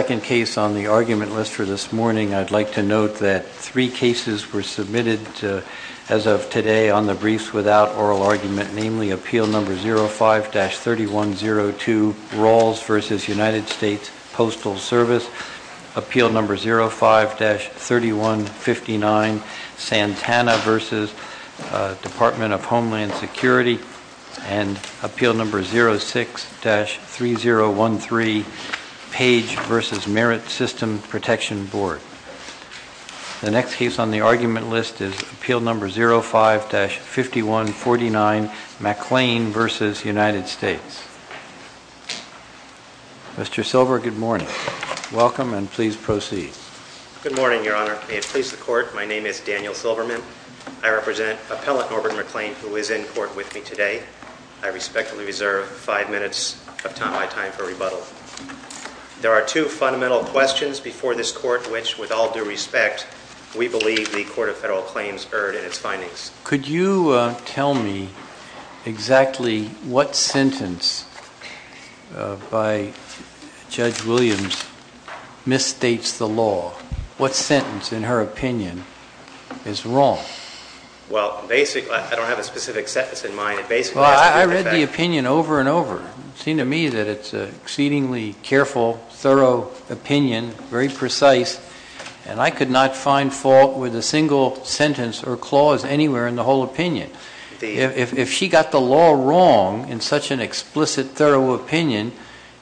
Second case on the argument list for this morning, I'd like to note that three cases were submitted as of today on the Briefs Without Oral Argument, namely Appeal No. 05-3102, Rawls v. United States Postal Service, Appeal No. 05-3159, Santana v. Department of Homeland 3, Page v. Merit System Protection Board. The next case on the argument list is Appeal No. 05-5149, McLean v. United States. Mr. Silver, good morning. Welcome, and please proceed. Good morning, Your Honor. May it please the Court, my name is Daniel Silverman. I represent Appellant Norbert McLean, who is in court with me today. I respectfully reserve five time for rebuttal. There are two fundamental questions before this Court, which, with all due respect, we believe the Court of Federal Claims erred in its findings. Could you tell me exactly what sentence by Judge Williams misstates the law? What sentence, in her opinion, is wrong? Well, basically, I don't have a specific sentence in mind. It basically has to do with the fact opinion over and over. It seemed to me that it's an exceedingly careful, thorough opinion, very precise, and I could not find fault with a single sentence or clause anywhere in the whole opinion. If she got the law wrong in such an explicit, thorough opinion,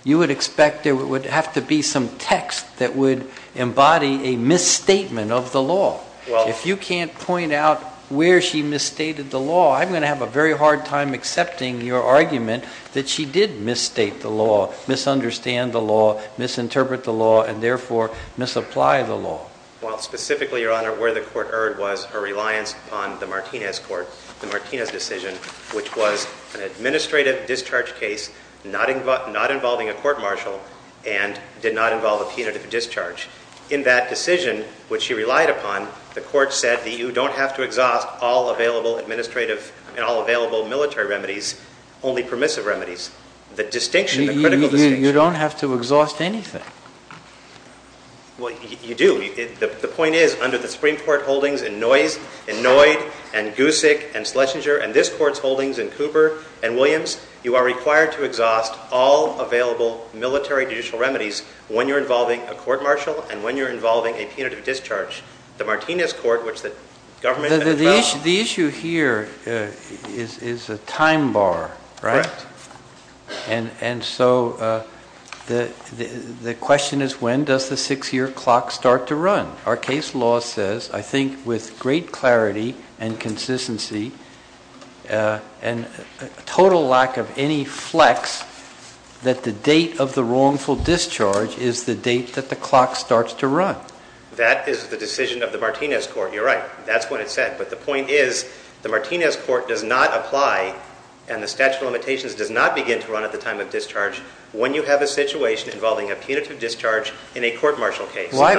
you would expect there would have to be some text that would embody a misstatement of the law. If you can't point out where she misstated the law, I'm going to have a very hard time accepting your argument that she did misstate the law, misunderstand the law, misinterpret the law, and therefore misapply the law. Well, specifically, Your Honor, where the Court erred was her reliance on the Martinez Court, the Martinez decision, which was an administrative discharge case not involving a court-martial and did not involve a punitive discharge. In that decision, which she relied upon, the Court said that you don't have to exhaust all available administrative and all only permissive remedies. The distinction, the critical distinction. You don't have to exhaust anything. Well, you do. The point is, under the Supreme Court holdings in Noyd and Gussik and Schlesinger and this Court's holdings in Cooper and Williams, you are required to exhaust all available military judicial remedies when you're involving a court-martial and when you're involving a punitive discharge. The Martinez Court, which the government had a trial on. The issue here is a time bar, right? And so the question is, when does the six-year clock start to run? Our case law says, I think with great clarity and consistency and total lack of any flex, that the date of the wrongful discharge is the date that the clock starts to run. That is the decision of the Martinez Court. You're right. That's what it said. But the point is, the Martinez Court does not apply and the statute of limitations does not begin to run at the time of discharge when you have a situation involving a punitive discharge in a court-martial case. Why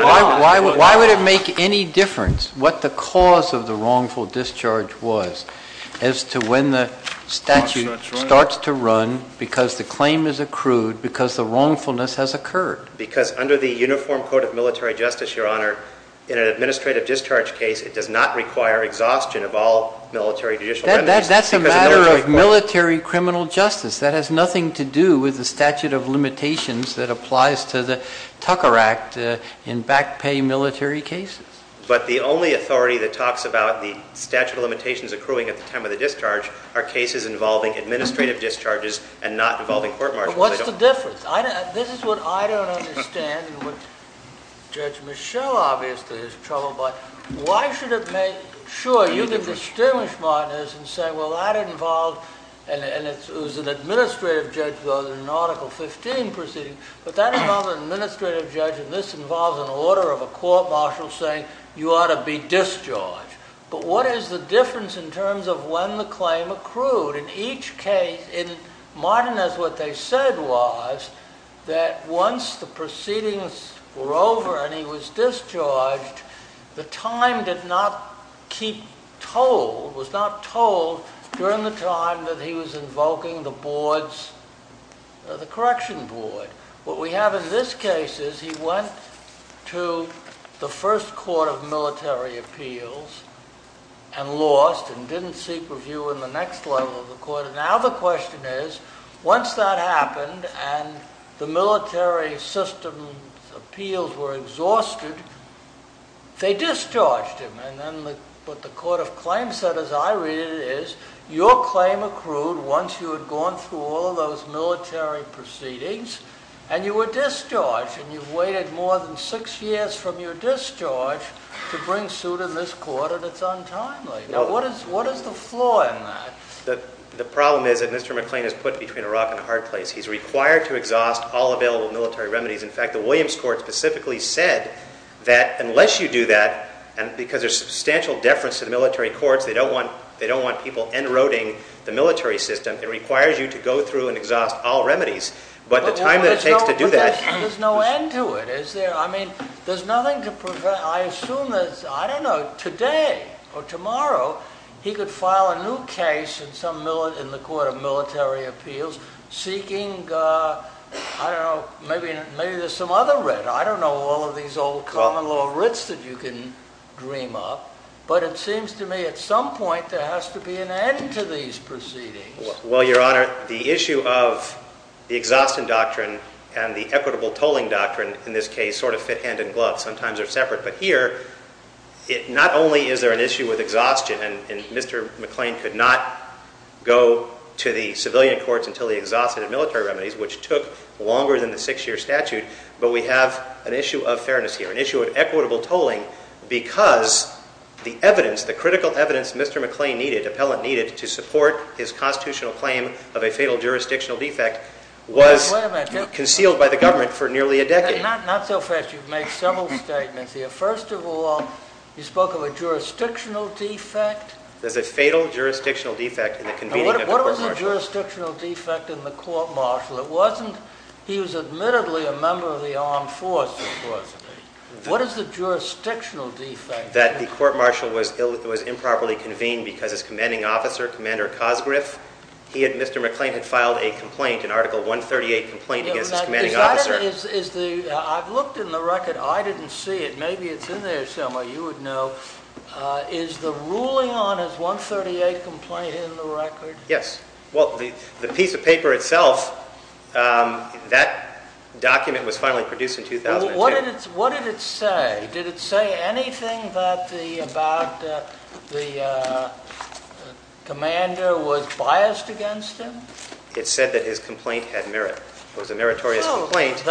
would it make any difference what the cause of the wrongful discharge was as to when the statute starts to run because the claim is accrued, because the wrongfulness has occurred? Because under the Uniform Code of Military Justice, Your Honor, in an administrative discharge case, it does not require exhaustion of all military judicial remedies. That's a matter of military criminal justice. That has nothing to do with the statute of limitations that applies to the Tucker Act in back pay military cases. But the only authority that talks about the statute of limitations accruing at the time of the discharge are cases involving administrative discharges and not involving court-martials. What's the difference? This is what I don't understand and what Judge Michel obviously is troubled by. Why should it make... Sure, you can distinguish Martinez and say, well, that involved... It was an administrative judge in Article 15 proceeding, but that involved an administrative judge and this involves an order of a court-martial saying you ought to be discharged. But what is the difference in terms of when the claim accrued? In each case, what he did was that once the proceedings were over and he was discharged, the time did not keep told, was not told, during the time that he was invoking the board's... The correction board. What we have in this case is he went to the first court of military appeals and lost and didn't seek review in the next level of the court. Now the question is, once that happened and the military system appeals were exhausted, they discharged him. Then what the court of claims said, as I read it, is your claim accrued once you had gone through all of those military proceedings and you were discharged and you've waited more than six years from your discharge to bring suit in this court and it's untimely. What is the flaw in that? The problem is that Mr. McLean is put between a rock and a hard place. He's required to exhaust all available military remedies. In fact, the Williams Court specifically said that unless you do that, because there's substantial deference to the military courts, they don't want people enroting the military system, it requires you to go through and exhaust all remedies. But the time that it takes to do that... There's no end to it, is there? I mean, there's nothing to prevent... I assume that, I don't know, today or tomorrow, he could file a new case in the court of military appeals seeking, I don't know, maybe there's some other writ. I don't know all of these old common law writs that you can dream up, but it seems to me at some point there has to be an end to these proceedings. Well, Your Honor, the issue of the exhaustion doctrine and the equitable tolling doctrine in this case sort of fit hand in glove. Sometimes they're separate. But here, not only is there an issue with exhaustion, and Mr. McLean could not go to the civilian courts until he exhausted the military remedies, which took longer than the six-year statute, but we have an issue of fairness here, an issue of equitable tolling, because the evidence, the critical evidence Mr. McLean needed, appellant needed, to support his constitutional claim of a fatal jurisdictional defect was concealed by the government for nearly a decade. Not so fast. You've made several statements here. First of all, you spoke of a jurisdictional defect. There's a fatal jurisdictional defect in the convening of the court-martial. What was the jurisdictional defect in the court-martial? It wasn't... He was admittedly a member of the armed forces, wasn't he? What is the jurisdictional defect? That the court-martial was improperly convened because his commanding officer, Commander Cosgriff, he and Mr. McLean had filed a complaint, an Article 138 complaint against his commanding officer. I've looked in the record. I didn't see it. Maybe it's in there somewhere. You would know. Is the ruling on his 138 complaint in the record? Yes. Well, the piece of paper itself, that document was finally produced in 2002. What did it say? Did it say anything about the commander was biased against him? It said that his complaint had merit. It was a meritorious complaint.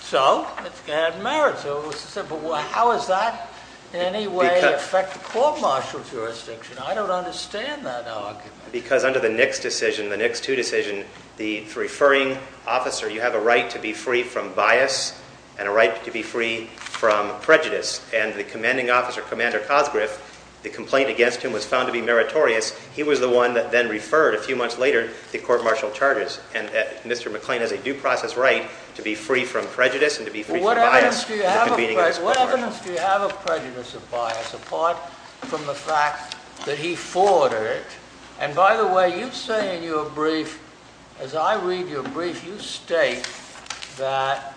So? It had merit. But how does that in any way affect the court-martial jurisdiction? I don't understand that argument. Because under the Nix decision, the Nix 2 decision, the referring officer, you have a right to be free from bias and a right to be free from prejudice. And the commanding officer, Commander Cosgriff, the complaint against him was found to be meritorious. He was the one that then referred, a few months later, the court-martial charges. And Mr. McLean has a due process right to be free from prejudice and to be free from bias. What evidence do you have of prejudice of bias, apart from the fact that he forwarded it? And by the way, you say in your brief, as I read your brief, you state that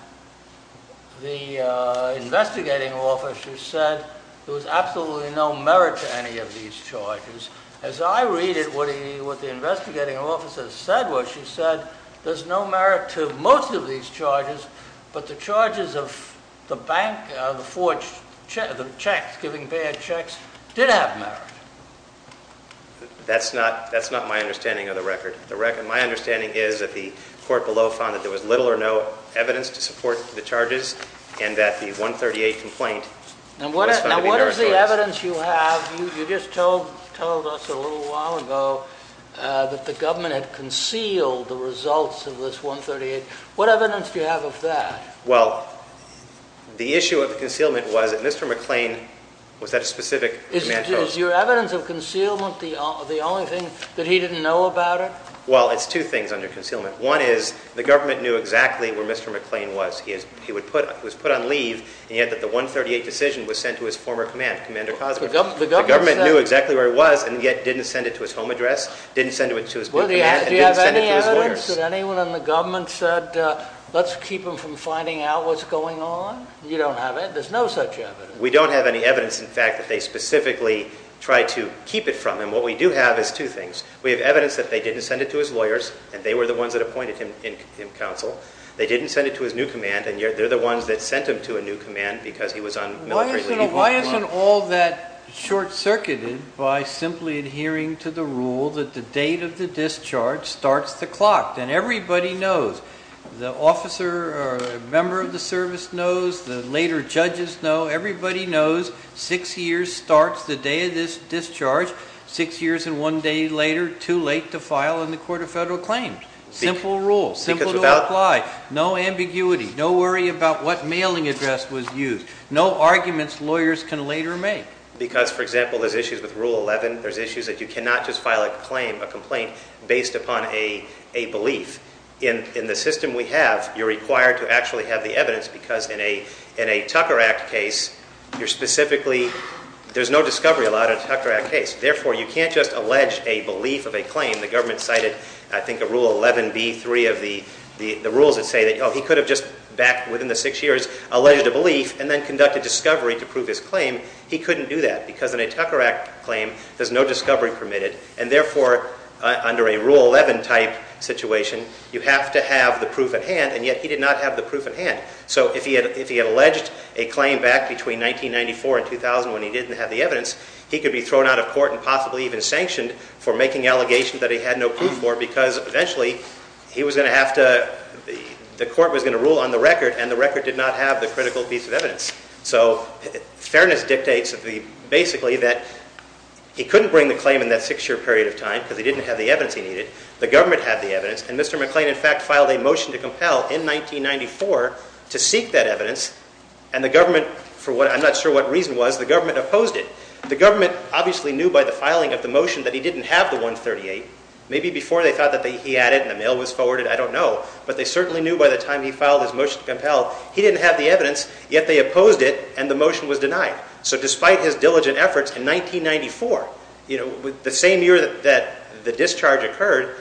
the investigating officer said there was absolutely no merit to any of these charges. As I read it, what the investigating officer said was, she said, there's no merit to most of these charges, but the charges of the bank, the checks, giving bad checks, did have merit. That's not my understanding of the record. My understanding is that the court below found that there was little or no evidence to support the charges and that the 138 complaint was found to be meritorious. Now what is the evidence you have? You just told us a little while ago that the government had concealed the results of this 138. What evidence do you have of that? Well, the issue of the concealment was that Mr. McLean was at a specific command post. Is your evidence of concealment the only thing that he didn't know about it? Well, it's two things under concealment. One is, the government knew exactly where Mr. McLean was. He was put on leave, and yet that the 138 decision was sent to his former command, Commander Cosby. The government knew exactly where he was, and yet didn't send it to his home address, didn't send it to his command, and didn't send it to his lawyers. Do you have any evidence that anyone in the government said, let's keep him from finding out what's going on? You don't have it? There's no such evidence? We don't have any evidence, in fact, that they specifically tried to keep it from him. What we do have is two things. We have evidence that they didn't send it to his lawyers, and they were the ones that appointed him in counsel. They didn't send it to his new command, and yet they're the ones that sent him to a new command because he was on military leave. Why isn't all that short-circuited by simply adhering to the rule that the date of the discharge starts the clock, and everybody knows? The officer or member of the service knows, the later judges know, everybody knows six years starts the day of this discharge. Six years and one day later, too late to file in the Court of Federal Claims. Simple rule, simple to apply. No ambiguity, no worry about what mailing address was used, no arguments lawyers can later make. Because, for example, there's issues with Rule 11. There's issues that you cannot just file a complaint based upon a belief. In the evidence, because in a Tucker Act case, you're specifically, there's no discovery allowed in a Tucker Act case. Therefore, you can't just allege a belief of a claim. The government cited, I think, a Rule 11B, three of the rules that say that, oh, he could have just backed within the six years, alleged a belief, and then conducted discovery to prove his claim. He couldn't do that because in a Tucker Act claim, there's no discovery permitted, and therefore, under a Rule 11 type situation, you have to have the proof at hand, and yet he did not have the proof at hand. So if he had alleged a claim back between 1994 and 2000 when he didn't have the evidence, he could be thrown out of court and possibly even sanctioned for making allegations that he had no proof for because, eventually, he was going to have to, the court was going to rule on the record, and the record did not have the critical piece of evidence. So fairness dictates, basically, that he couldn't bring the claim in that six-year period of time because he didn't have the evidence he needed. The government had the evidence, and Mr. McLean, in fact, filed a motion to compel in 1994 to seek that evidence, and the government, for what, I'm not sure what reason was, the government opposed it. The government obviously knew by the filing of the motion that he didn't have the 138. Maybe before they thought that he had it and the mail was forwarded, I don't know, but they certainly knew by the time he filed his motion to compel, he didn't have the evidence, yet they opposed it, and the motion was denied. So despite his diligent efforts in 1994, you know, the same year that the discharge occurred,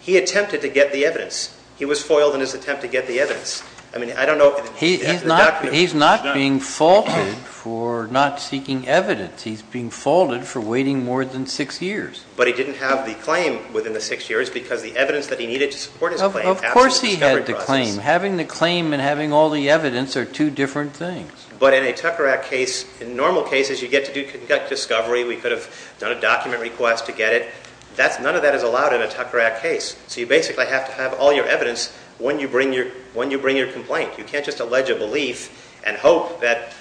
he attempted to get the evidence. He was foiled in his attempt to get the evidence. I mean, I don't know if the document was denied. He's not being faulted for not seeking evidence. He's being faulted for waiting more than six years. But he didn't have the claim within the six years because the evidence that he needed to support his claim passed in the discovery process. Of course he had the claim. Having the claim and having all the evidence are two different things. But in a Tucker Act case, in normal cases, you get to do discovery. We could have done a document request to get it. None of that is allowed in a Tucker Act case. So you basically have to have all your evidence when you bring your complaint. You can't just allege a belief and hope that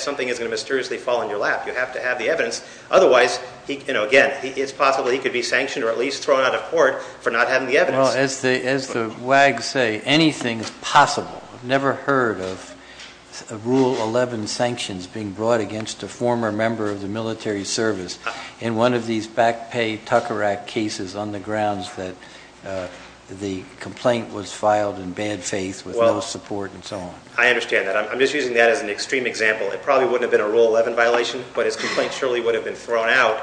something is going to mysteriously fall on your lap. You have to have the evidence. Otherwise, you know, again, it's possible he could be sanctioned or at least thrown out of court for not having the evidence. Well, as the WAGs say, anything is possible. I've never heard of Rule 11 sanctions being brought against a former member of the military service in one of these back pay Tucker Act cases on the grounds that the complaint was filed in bad faith with no support and so on. I understand that. I'm just using that as an extreme example. It probably wouldn't have been a Rule 11 violation, but his complaint surely would have been thrown out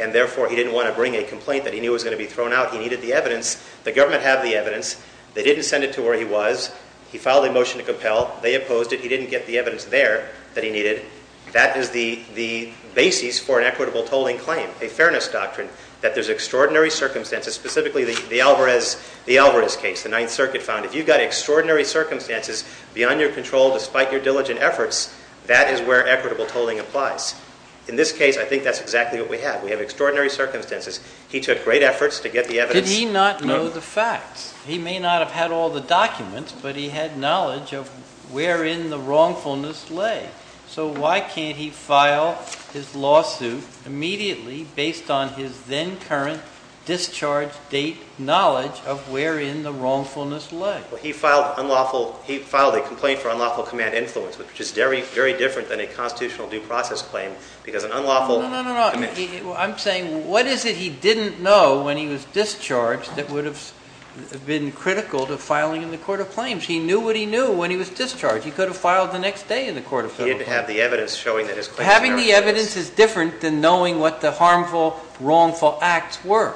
and therefore he didn't want to bring a complaint that he knew was going to be thrown out. He needed the evidence. The government had the evidence. They didn't send it to where he was. He filed a motion to compel. They opposed it. He didn't get the evidence there that he needed. That is the basis for an equitable tolling claim, a fairness doctrine, that there's extraordinary circumstances, specifically the Alvarez case, the Ninth Circuit found. If you've got extraordinary circumstances beyond your control despite your diligent efforts, that is where equitable tolling applies. In this case, I think that's exactly what we have. We have extraordinary circumstances. He took great efforts to get the evidence. Did he not know the facts? He may not have had all the documents, but he had knowledge of where in the wrongfulness lay. So why can't he file his lawsuit immediately based on his then-current discharge date knowledge of where in the wrongfulness lay? He filed a complaint for unlawful command influence, which is very different than a constitutional due process claim because an unlawful commission... No, no, no. I'm saying what is it he didn't know when he was discharged that would have been critical to filing in the court of claims. He knew what he knew when he was discharged. He could have filed the next day in the court of federal claims. He didn't have the evidence showing that his claims were... Having the evidence is different than knowing what the harmful, wrongful acts were.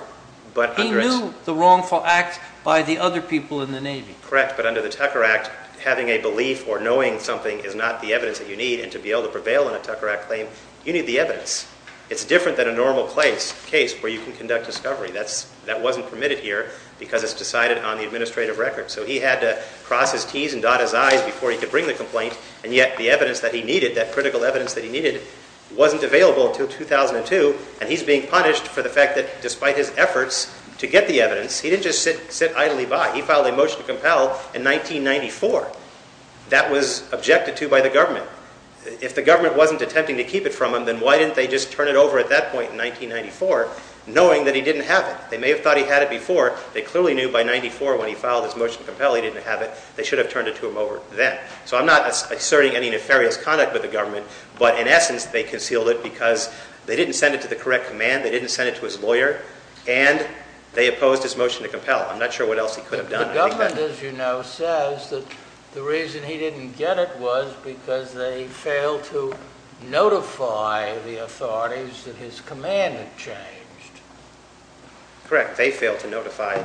He knew the wrongful acts by the other people in the Navy. Correct, but under the Tucker Act, having a belief or knowing something is not the evidence that you need, and to be able to prevail in a Tucker Act claim, you need the evidence. It's different than a normal case where you can conduct discovery. That wasn't permitted here because it's decided on the administrative record, so he had to cross his T's and dot his I's before he could bring the complaint, and yet the evidence that he needed, that critical evidence that he needed, wasn't available until 2002, and he's being punished for the fact that despite his efforts to get the evidence, he didn't just sit idly by. He filed a motion to compel in 1994. That was objected to by the government. If the government wasn't attempting to keep it from him, then why didn't they just turn it over at that point in 1994, knowing that he didn't have it? They may have thought he had it before. They clearly knew by 1994, when he filed his motion to compel, he didn't have it. They should have turned it to him over then. So I'm not asserting any nefarious conduct with the government, but in essence, they concealed it because they didn't send it to the correct command, they didn't send it to his lawyer, and they opposed his motion to compel. I'm not sure what else he could have done. The government, as you know, says that the reason he didn't get it was because they failed to notify the authorities that his command had changed. Correct. They failed to notify.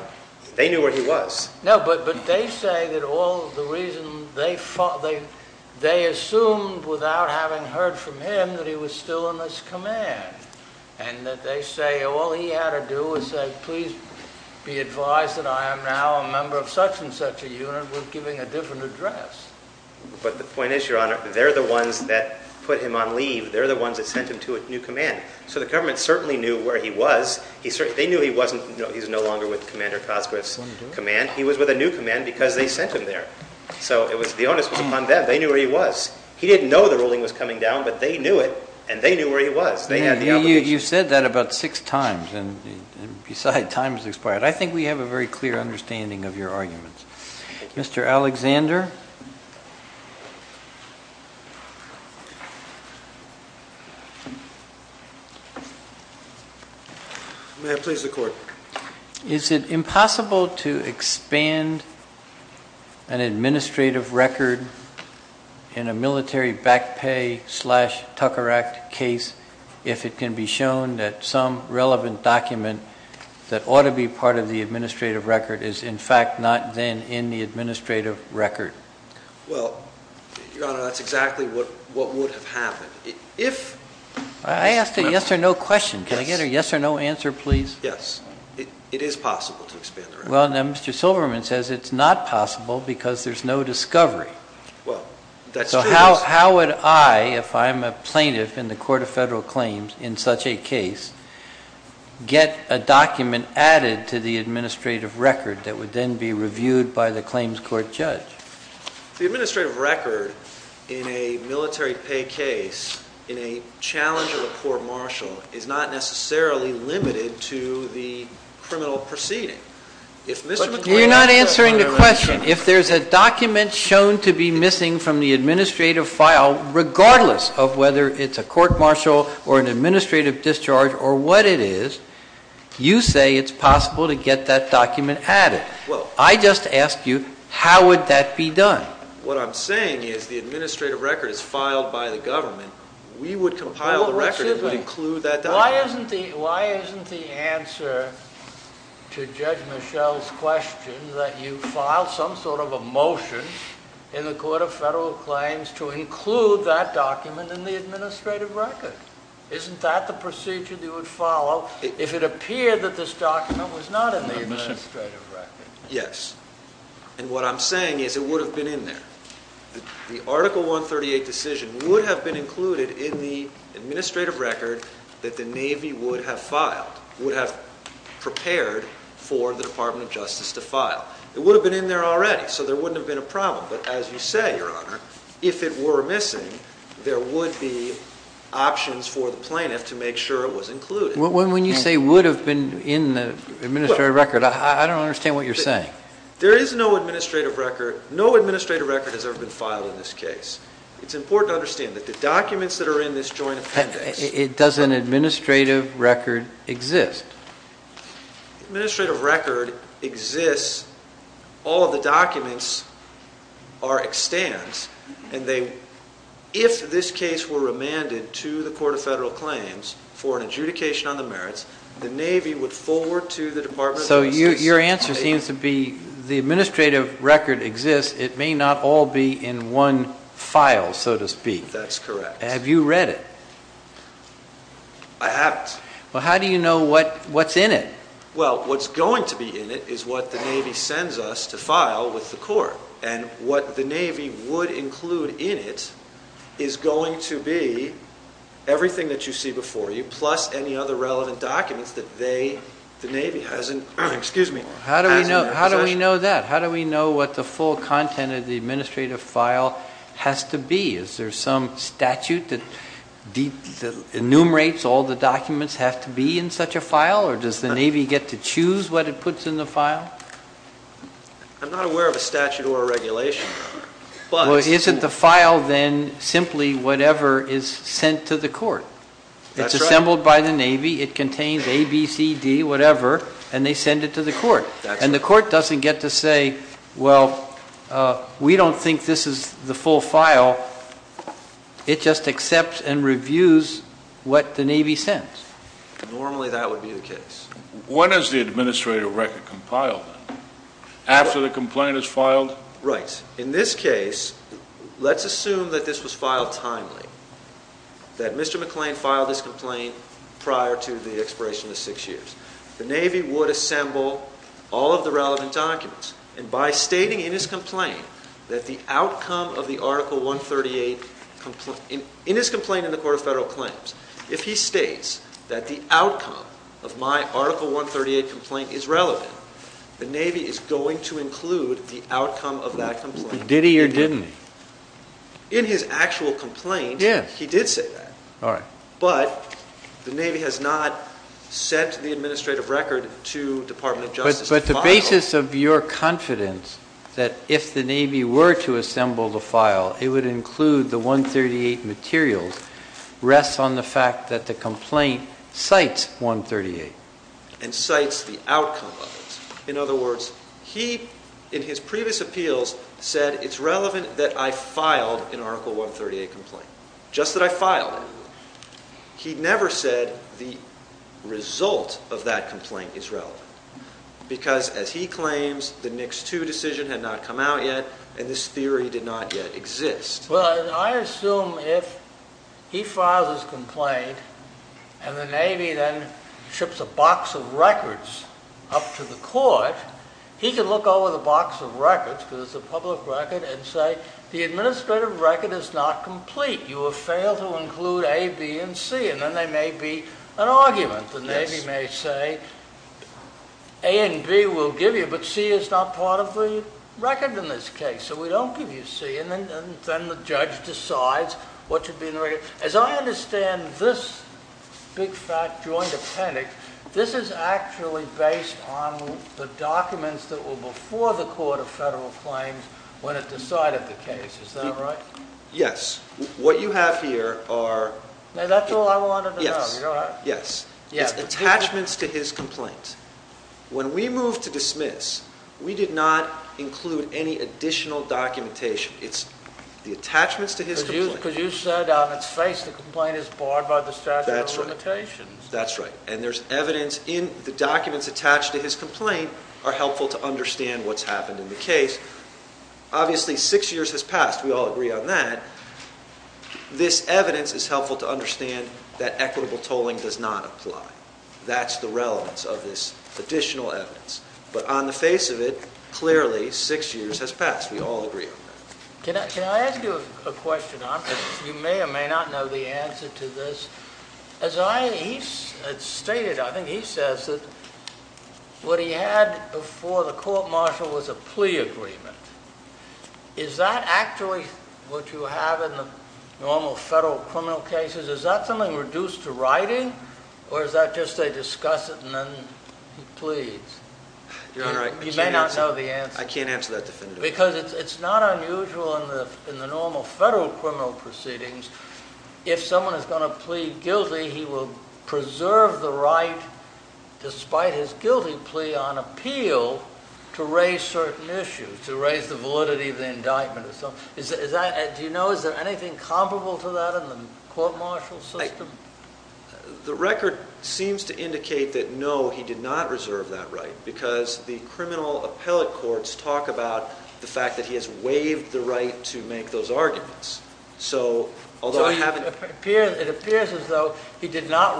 They knew where he was. No, but they say that all the reason they assumed, without having heard from him, that he was still in this command, and that they say all he had to do was say, please be advised that I am now a member of such and such a unit with giving a different address. But the point is, Your Honor, they're the ones that put him on leave. They're the ones that sent him to a new command. So the government certainly knew where he was. They knew he was no longer with Commander Cosgrove's command. He was with a new command because they sent him there. So the onus was upon them. They knew where he was. He didn't know the ruling was coming down, but they knew it, and they knew where he was. You said that about six times, and besides, time has expired. I think we have a very clear understanding of your arguments. Mr. Alexander? May I please the Court? Is it impossible to expand an administrative record in a military back pay slash Tucker Act case if it can be shown that some relevant document that ought to be part of the administrative record is, in fact, not then in the administrative record? Well, Your Honor, that's exactly what would have happened. I asked a yes or no question. Can I get a yes or no answer, please? Yes. It is possible to expand the record. Well, then Mr. Silverman says it's not possible because there's no discovery. Well, that's true. So how would I, if I'm a plaintiff in the Court of Federal Claims in such a case, get a document added to the administrative record that would then be reviewed by the claims court judge? The administrative record in a military pay case, in a challenge of a court martial, is not necessarily limited to the criminal proceeding. But you're not answering the question. If there's a document shown to be missing from the administrative file, regardless of whether it's a court martial or an administrative discharge or what it is, you say it's possible to get that document added. I just ask you, how would that be done? What I'm saying is the administrative record is filed by the government. We would compile the record and include that document. Why isn't the answer to Judge Michel's question that you file some sort of a motion in the Court of Federal Claims to include that document in the administrative record? Isn't that the procedure that you would follow if it appeared that this document was not in the administrative record? Yes. And what I'm saying is it would have been in there. The Article 138 decision would have been included in the administrative record that the Navy would have filed, would have prepared for the Department of Justice to file. It would have been in there already, so there wouldn't have been a problem. But as you say, Your Honor, if it were missing, there would be options for the plaintiff to make sure it was included. When you say would have been in the administrative record, I don't understand what you're saying. There is no administrative record. No administrative record has ever been filed in this case. It's important to understand that the documents that are in this joint appendix It doesn't administrative record exist. Administrative record exists. All of the documents are extant. If this case were remanded to the Court of Federal Claims for an adjudication on the merits, the Navy would forward to the Department of Justice. So your answer seems to be the administrative record exists. It may not all be in one file, so to speak. That's correct. Have you read it? I haven't. Well, how do you know what's in it? Well, what's going to be in it is what the Navy sends us to file with the Court. And what the Navy would include in it is going to be everything that you see before you plus any other relevant documents that the Navy has in their possession. How do we know that? How do we know what the full content of the administrative file has to be? Is there some statute that enumerates all the documents have to be in such a file? Or does the Navy get to choose what it puts in the file? I'm not aware of a statute or a regulation. Well, isn't the file then simply whatever is sent to the Court? That's right. It's assembled by the Navy. It contains A, B, C, D, whatever, and they send it to the Court. And the Court doesn't get to say, well, we don't think this is the full file. It just accepts and reviews what the Navy sends. Normally that would be the case. When is the administrative record compiled then? After the complaint is filed? Right. In this case, let's assume that this was filed timely, that Mr. McClain filed this complaint prior to the expiration of six years. The Navy would assemble all of the relevant documents. And by stating in his complaint that the outcome of the Article 138 complaint, in his complaint in the Court of Federal Claims, if he states that the outcome of my Article 138 complaint is relevant, the Navy is going to include the outcome of that complaint. Did he or didn't he? In his actual complaint, he did say that. All right. But the Navy has not sent the administrative record to Department of Justice to file it. But the basis of your confidence that if the Navy were to assemble the file, it would include the 138 materials, rests on the fact that the complaint cites 138 and cites the outcome of it. In other words, he, in his previous appeals, said it's relevant that I filed an Article 138 complaint, just that I filed it. He never said the result of that complaint is relevant. Because, as he claims, the NICS 2 decision had not come out yet, and this theory did not yet exist. Well, I assume if he files his complaint and the Navy then ships a box of records up to the court, he can look over the box of records, because it's a public record, and say the administrative record is not complete. You have failed to include A, B, and C. And then there may be an argument. The Navy may say A and B we'll give you, but C is not part of the record in this case. So we don't give you C. And then the judge decides what should be in the record. As I understand this big fat joint appendix, this is actually based on the documents that were before the Court of Federal Claims when it decided the case. Is that right? Yes. What you have here are... That's all I wanted to know. Are you all right? Yes. It's attachments to his complaint. When we moved to dismiss, we did not include any additional documentation. It's the attachments to his complaint. Because you said on its face the complaint is barred by the statute of limitations. That's right. And there's evidence in the documents attached to his complaint are helpful to understand what's happened in the case. Obviously, six years has passed. We all agree on that. This evidence is helpful to understand that equitable tolling does not apply. That's the relevance of this additional evidence. But on the face of it, clearly six years has passed. We all agree on that. Can I ask you a question? You may or may not know the answer to this. I think he says that what he had before the court-martial was a plea agreement. Is that actually what you have in the normal federal criminal cases? Is that something reduced to writing or is that just they discuss it and then he pleads? Your Honor, I can't answer that definitively. Because it's not unusual in the normal federal criminal proceedings if someone is going to plead guilty, he will preserve the right despite his guilty plea on appeal to raise certain issues, to raise the validity of the indictment. Do you know is there anything comparable to that in the court-martial system? The record seems to indicate that no, he did not reserve that right because the criminal appellate courts talk about the fact that he has waived the right to make those arguments. So it appears as though he did not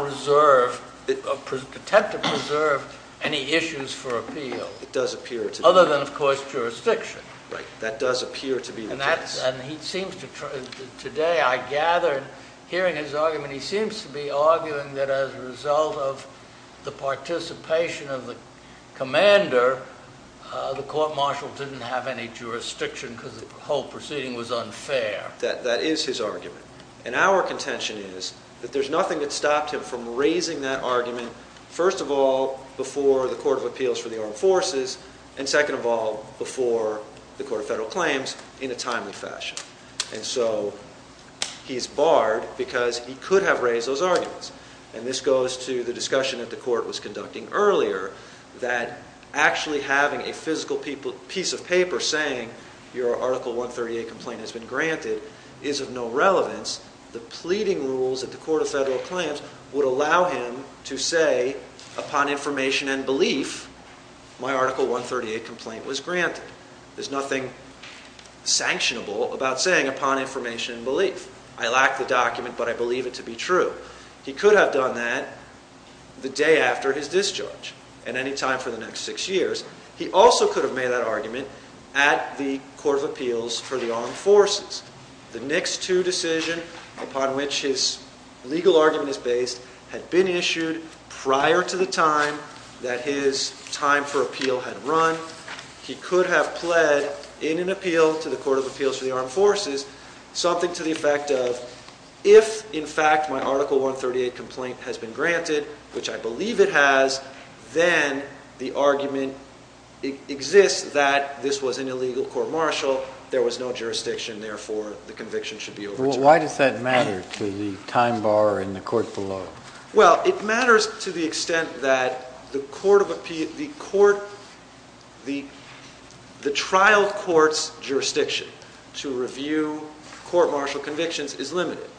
attempt to preserve any issues for appeal. It does appear to do that. Other than, of course, jurisdiction. Right, that does appear to be the case. And today I gathered hearing his argument, he seems to be arguing that as a result of the participation of the commander, the court-martial didn't have any jurisdiction because the whole proceeding was unfair. That is his argument. And our contention is that there's nothing that stopped him from raising that argument, first of all, before the Court of Appeals for the Armed Forces, and second of all, before the Court of Federal Claims in a timely fashion. And so he's barred because he could have raised those arguments. And this goes to the discussion that the court was conducting earlier, that actually having a physical piece of paper saying, your Article 138 complaint has been granted, is of no relevance. The pleading rules at the Court of Federal Claims would allow him to say, upon information and belief, my Article 138 complaint was granted. There's nothing sanctionable about saying, upon information and belief. I lack the document, but I believe it to be true. He could have done that the day after his discharge and any time for the next six years. He also could have made that argument at the Court of Appeals for the Armed Forces. The next two decisions upon which his legal argument is based had been issued prior to the time that his time for appeal had run. He could have pled in an appeal to the Court of Appeals for the Armed Forces, something to the effect of, if, in fact, my Article 138 complaint has been granted, which I believe it has, then the argument exists that this was an illegal court martial, there was no jurisdiction, therefore the conviction should be overturned. Why does that matter to the time bar in the court below? Well, it matters to the extent that the trial court's jurisdiction to review court martial convictions is limited,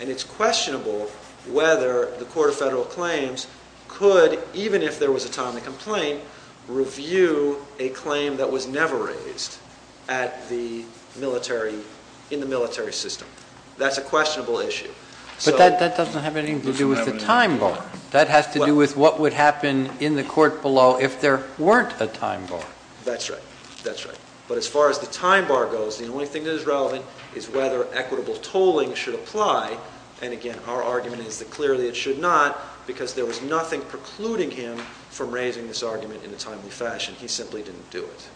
and it's questionable whether the Court of Federal Claims could, even if there was a timely complaint, review a claim that was never raised in the military system. That's a questionable issue. But that doesn't have anything to do with the time bar. That has to do with what would happen in the court below if there weren't a time bar. That's right. That's right. But as far as the time bar goes, the only thing that is relevant is whether equitable tolling should apply. And, again, our argument is that clearly it should not, because there was nothing precluding him from raising this argument in a timely fashion. He simply didn't do it.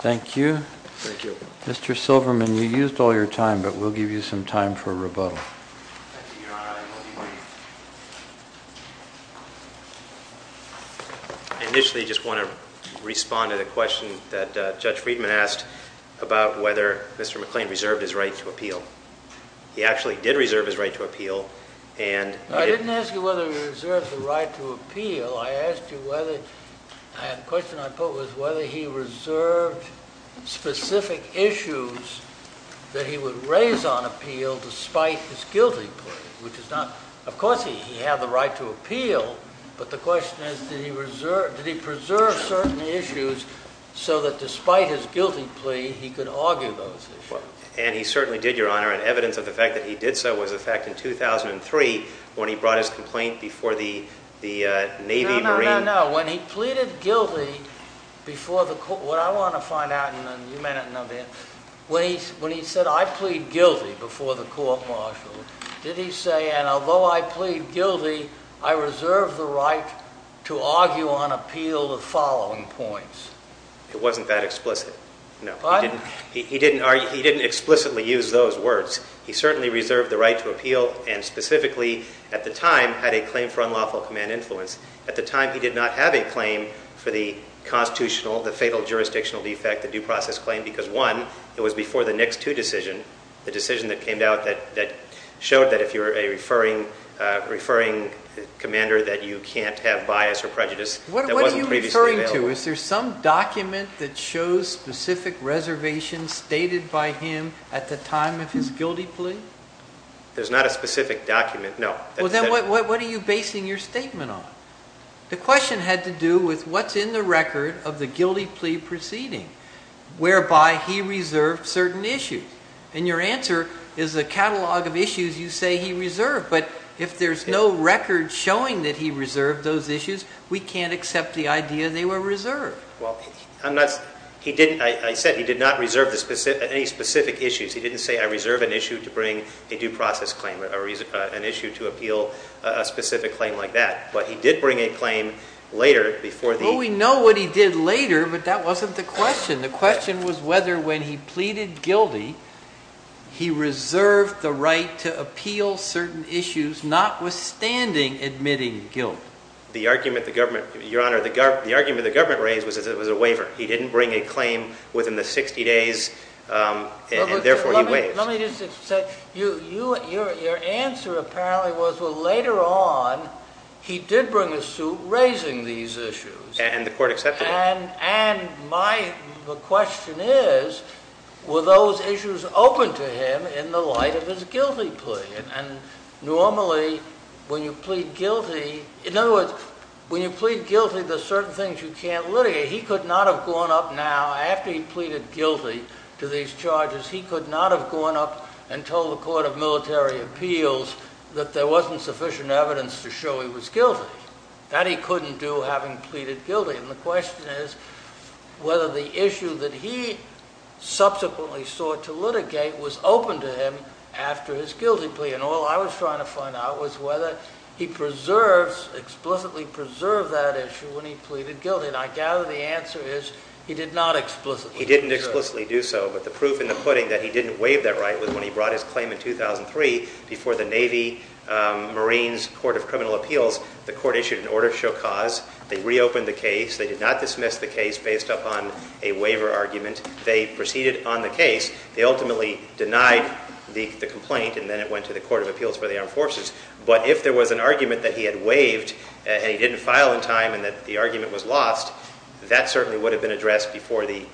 Thank you. Thank you. Mr. Silverman, you used all your time, but we'll give you some time for rebuttal. Your Honor, I will be brief. Initially, I just want to respond to the question that Judge Friedman asked about whether Mr. McClain reserved his right to appeal. He actually did reserve his right to appeal, and— I didn't ask you whether he reserved the right to appeal. I asked you whether—the question I put was whether he reserved specific issues that he would raise on appeal despite his guilty plea, which is not— of course, he had the right to appeal, but the question is, did he preserve certain issues so that despite his guilty plea, he could argue those issues? And he certainly did, Your Honor, and evidence of the fact that he did so was the fact in 2003 when he brought his complaint before the Navy and Marine— No, no, no, no. When he pleaded guilty before the court— What I want to find out, and you may not know this, when he said, I plead guilty before the court-martial, did he say, and although I plead guilty, I reserve the right to argue on appeal the following points? It wasn't that explicit, no. He didn't explicitly use those words. He certainly reserved the right to appeal and specifically, at the time, had a claim for unlawful command influence. At the time, he did not have a claim for the constitutional, the fatal jurisdictional defect, the due process claim because, one, it was before the Nix 2 decision, the decision that came out that showed that if you're a referring commander that you can't have bias or prejudice, that wasn't previously available. What are you referring to? Is there some document that shows specific reservations stated by him at the time of his guilty plea? There's not a specific document, no. Well, then what are you basing your statement on? The question had to do with what's in the record of the guilty plea proceeding, whereby he reserved certain issues. And your answer is a catalog of issues you say he reserved, but if there's no record showing that he reserved those issues, we can't accept the idea they were reserved. Well, I said he did not reserve any specific issues. He didn't say, I reserve an issue to bring a due process claim, an issue to appeal a specific claim like that. But he did bring a claim later before the- Well, we know what he did later, but that wasn't the question. The question was whether when he pleaded guilty, he reserved the right to appeal certain issues notwithstanding admitting guilt. The argument the government raised was that it was a waiver. He didn't bring a claim within the 60 days, and therefore he waived. Let me just say, your answer apparently was, well, later on he did bring a suit raising these issues. And the court accepted it. And my question is, were those issues open to him in the light of his guilty plea? And normally when you plead guilty, in other words, when you plead guilty to certain things you can't litigate, he could not have gone up now after he pleaded guilty to these charges, he could not have gone up and told the Court of Military Appeals that there wasn't sufficient evidence to show he was guilty. That he couldn't do having pleaded guilty. And the question is whether the issue that he subsequently sought to litigate was open to him after his guilty plea. And all I was trying to find out was whether he preserves, explicitly preserved that issue when he pleaded guilty. And I gather the answer is he did not explicitly preserve it. He didn't explicitly do so, but the proof in the pudding that he didn't waive that right was when he brought his claim in 2003 before the Navy Marines Court of Criminal Appeals. The court issued an order to show cause. They reopened the case. They did not dismiss the case based upon a waiver argument. They proceeded on the case. They ultimately denied the complaint, and then it went to the Court of Appeals for the Armed Forces. But if there was an argument that he had waived and he didn't file in time and that the argument was lost, that certainly would have been addressed before the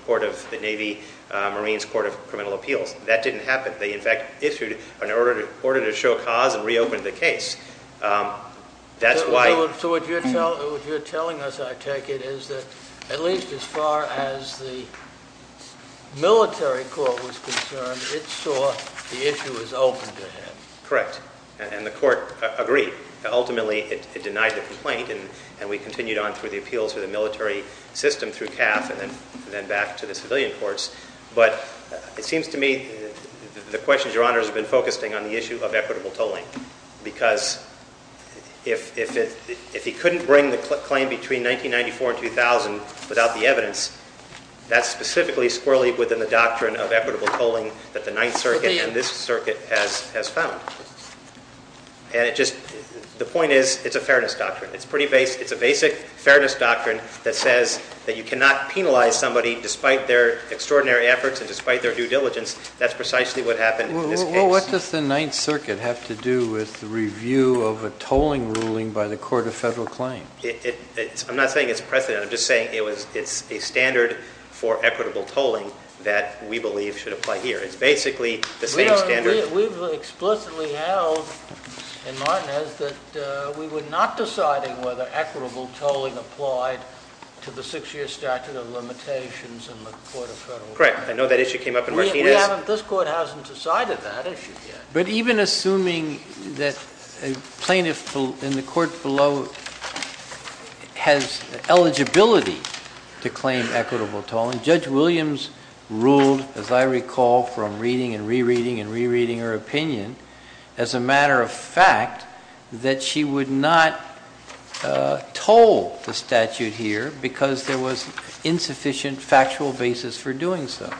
Navy Marines Court of Criminal Appeals. That didn't happen. They, in fact, issued an order to show cause and reopened the case. That's why... So what you're telling us, I take it, is that at least as far as the military court was concerned, it saw the issue as open to him. Correct. And the court agreed. Ultimately, it denied the complaint, and we continued on through the appeals for the military system through CAF and then back to the civilian courts. But it seems to me the questions, Your Honors, have been focusing on the issue of equitable tolling because if he couldn't bring the claim between 1994 and 2000 without the evidence, that's specifically squirrelly within the doctrine of equitable tolling that the Ninth Circuit and this circuit has found. And it just... The point is it's a fairness doctrine. It's pretty basic. It's a basic fairness doctrine that says that you cannot penalize somebody despite their extraordinary efforts and despite their due diligence. That's precisely what happened in this case. Well, what does the Ninth Circuit have to do with the review of a tolling ruling by the Court of Federal Claims? I'm not saying it's precedent. I'm just saying it's a standard for equitable tolling that we believe should apply here. It's basically the same standard. We've explicitly held in Martinez that we were not deciding whether equitable tolling applied to the six-year statute of limitations in the Court of Federal Claims. Correct. I know that issue came up in Martinez. This Court hasn't decided that issue yet. But even assuming that a plaintiff in the court below has eligibility to claim equitable tolling, Judge Williams ruled, as I recall from reading and re-reading and re-reading her opinion, as a matter of fact that she would not toll the statute here because there was insufficient factual basis for doing so.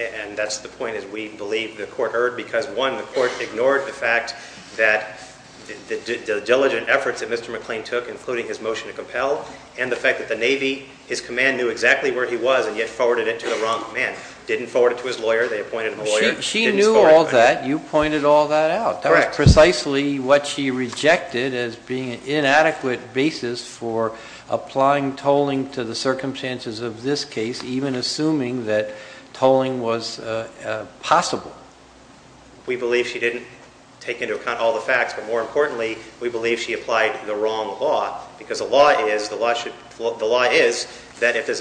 And that's the point that we believe the Court heard because, one, the Court ignored the fact that the diligent efforts that Mr. McLean took, including his motion to compel, and the fact that the Navy, his command, knew exactly where he was and yet forwarded it to the wrong man. Didn't forward it to his lawyer. They appointed him a lawyer. She knew all that. You pointed all that out. Correct. That was precisely what she rejected as being an inadequate basis for applying tolling to the circumstances of this case, even assuming that tolling was possible. We believe she didn't take into account all the facts. But more importantly, we believe she applied the wrong law because the law is that if there's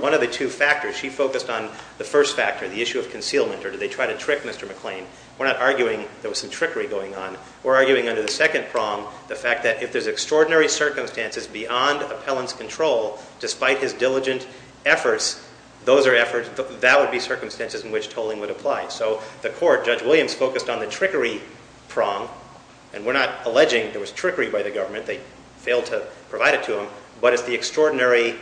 one of the two factors, she focused on the first factor, the issue of concealment, or did they try to trick Mr. McLean? We're not arguing there was some trickery going on. We're arguing under the second prong the fact that if there's extraordinary circumstances beyond appellant's control, despite his diligent efforts, that would be circumstances in which tolling would apply. So the Court, Judge Williams focused on the trickery prong, and we're not alleging there was trickery by the government. They failed to provide it to him. But it's the extraordinary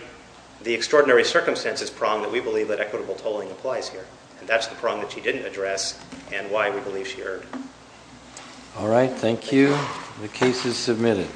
circumstances prong that we believe that equitable tolling applies here, and that's the prong that she didn't address and why we believe she erred. All right. Thank you. The case is submitted.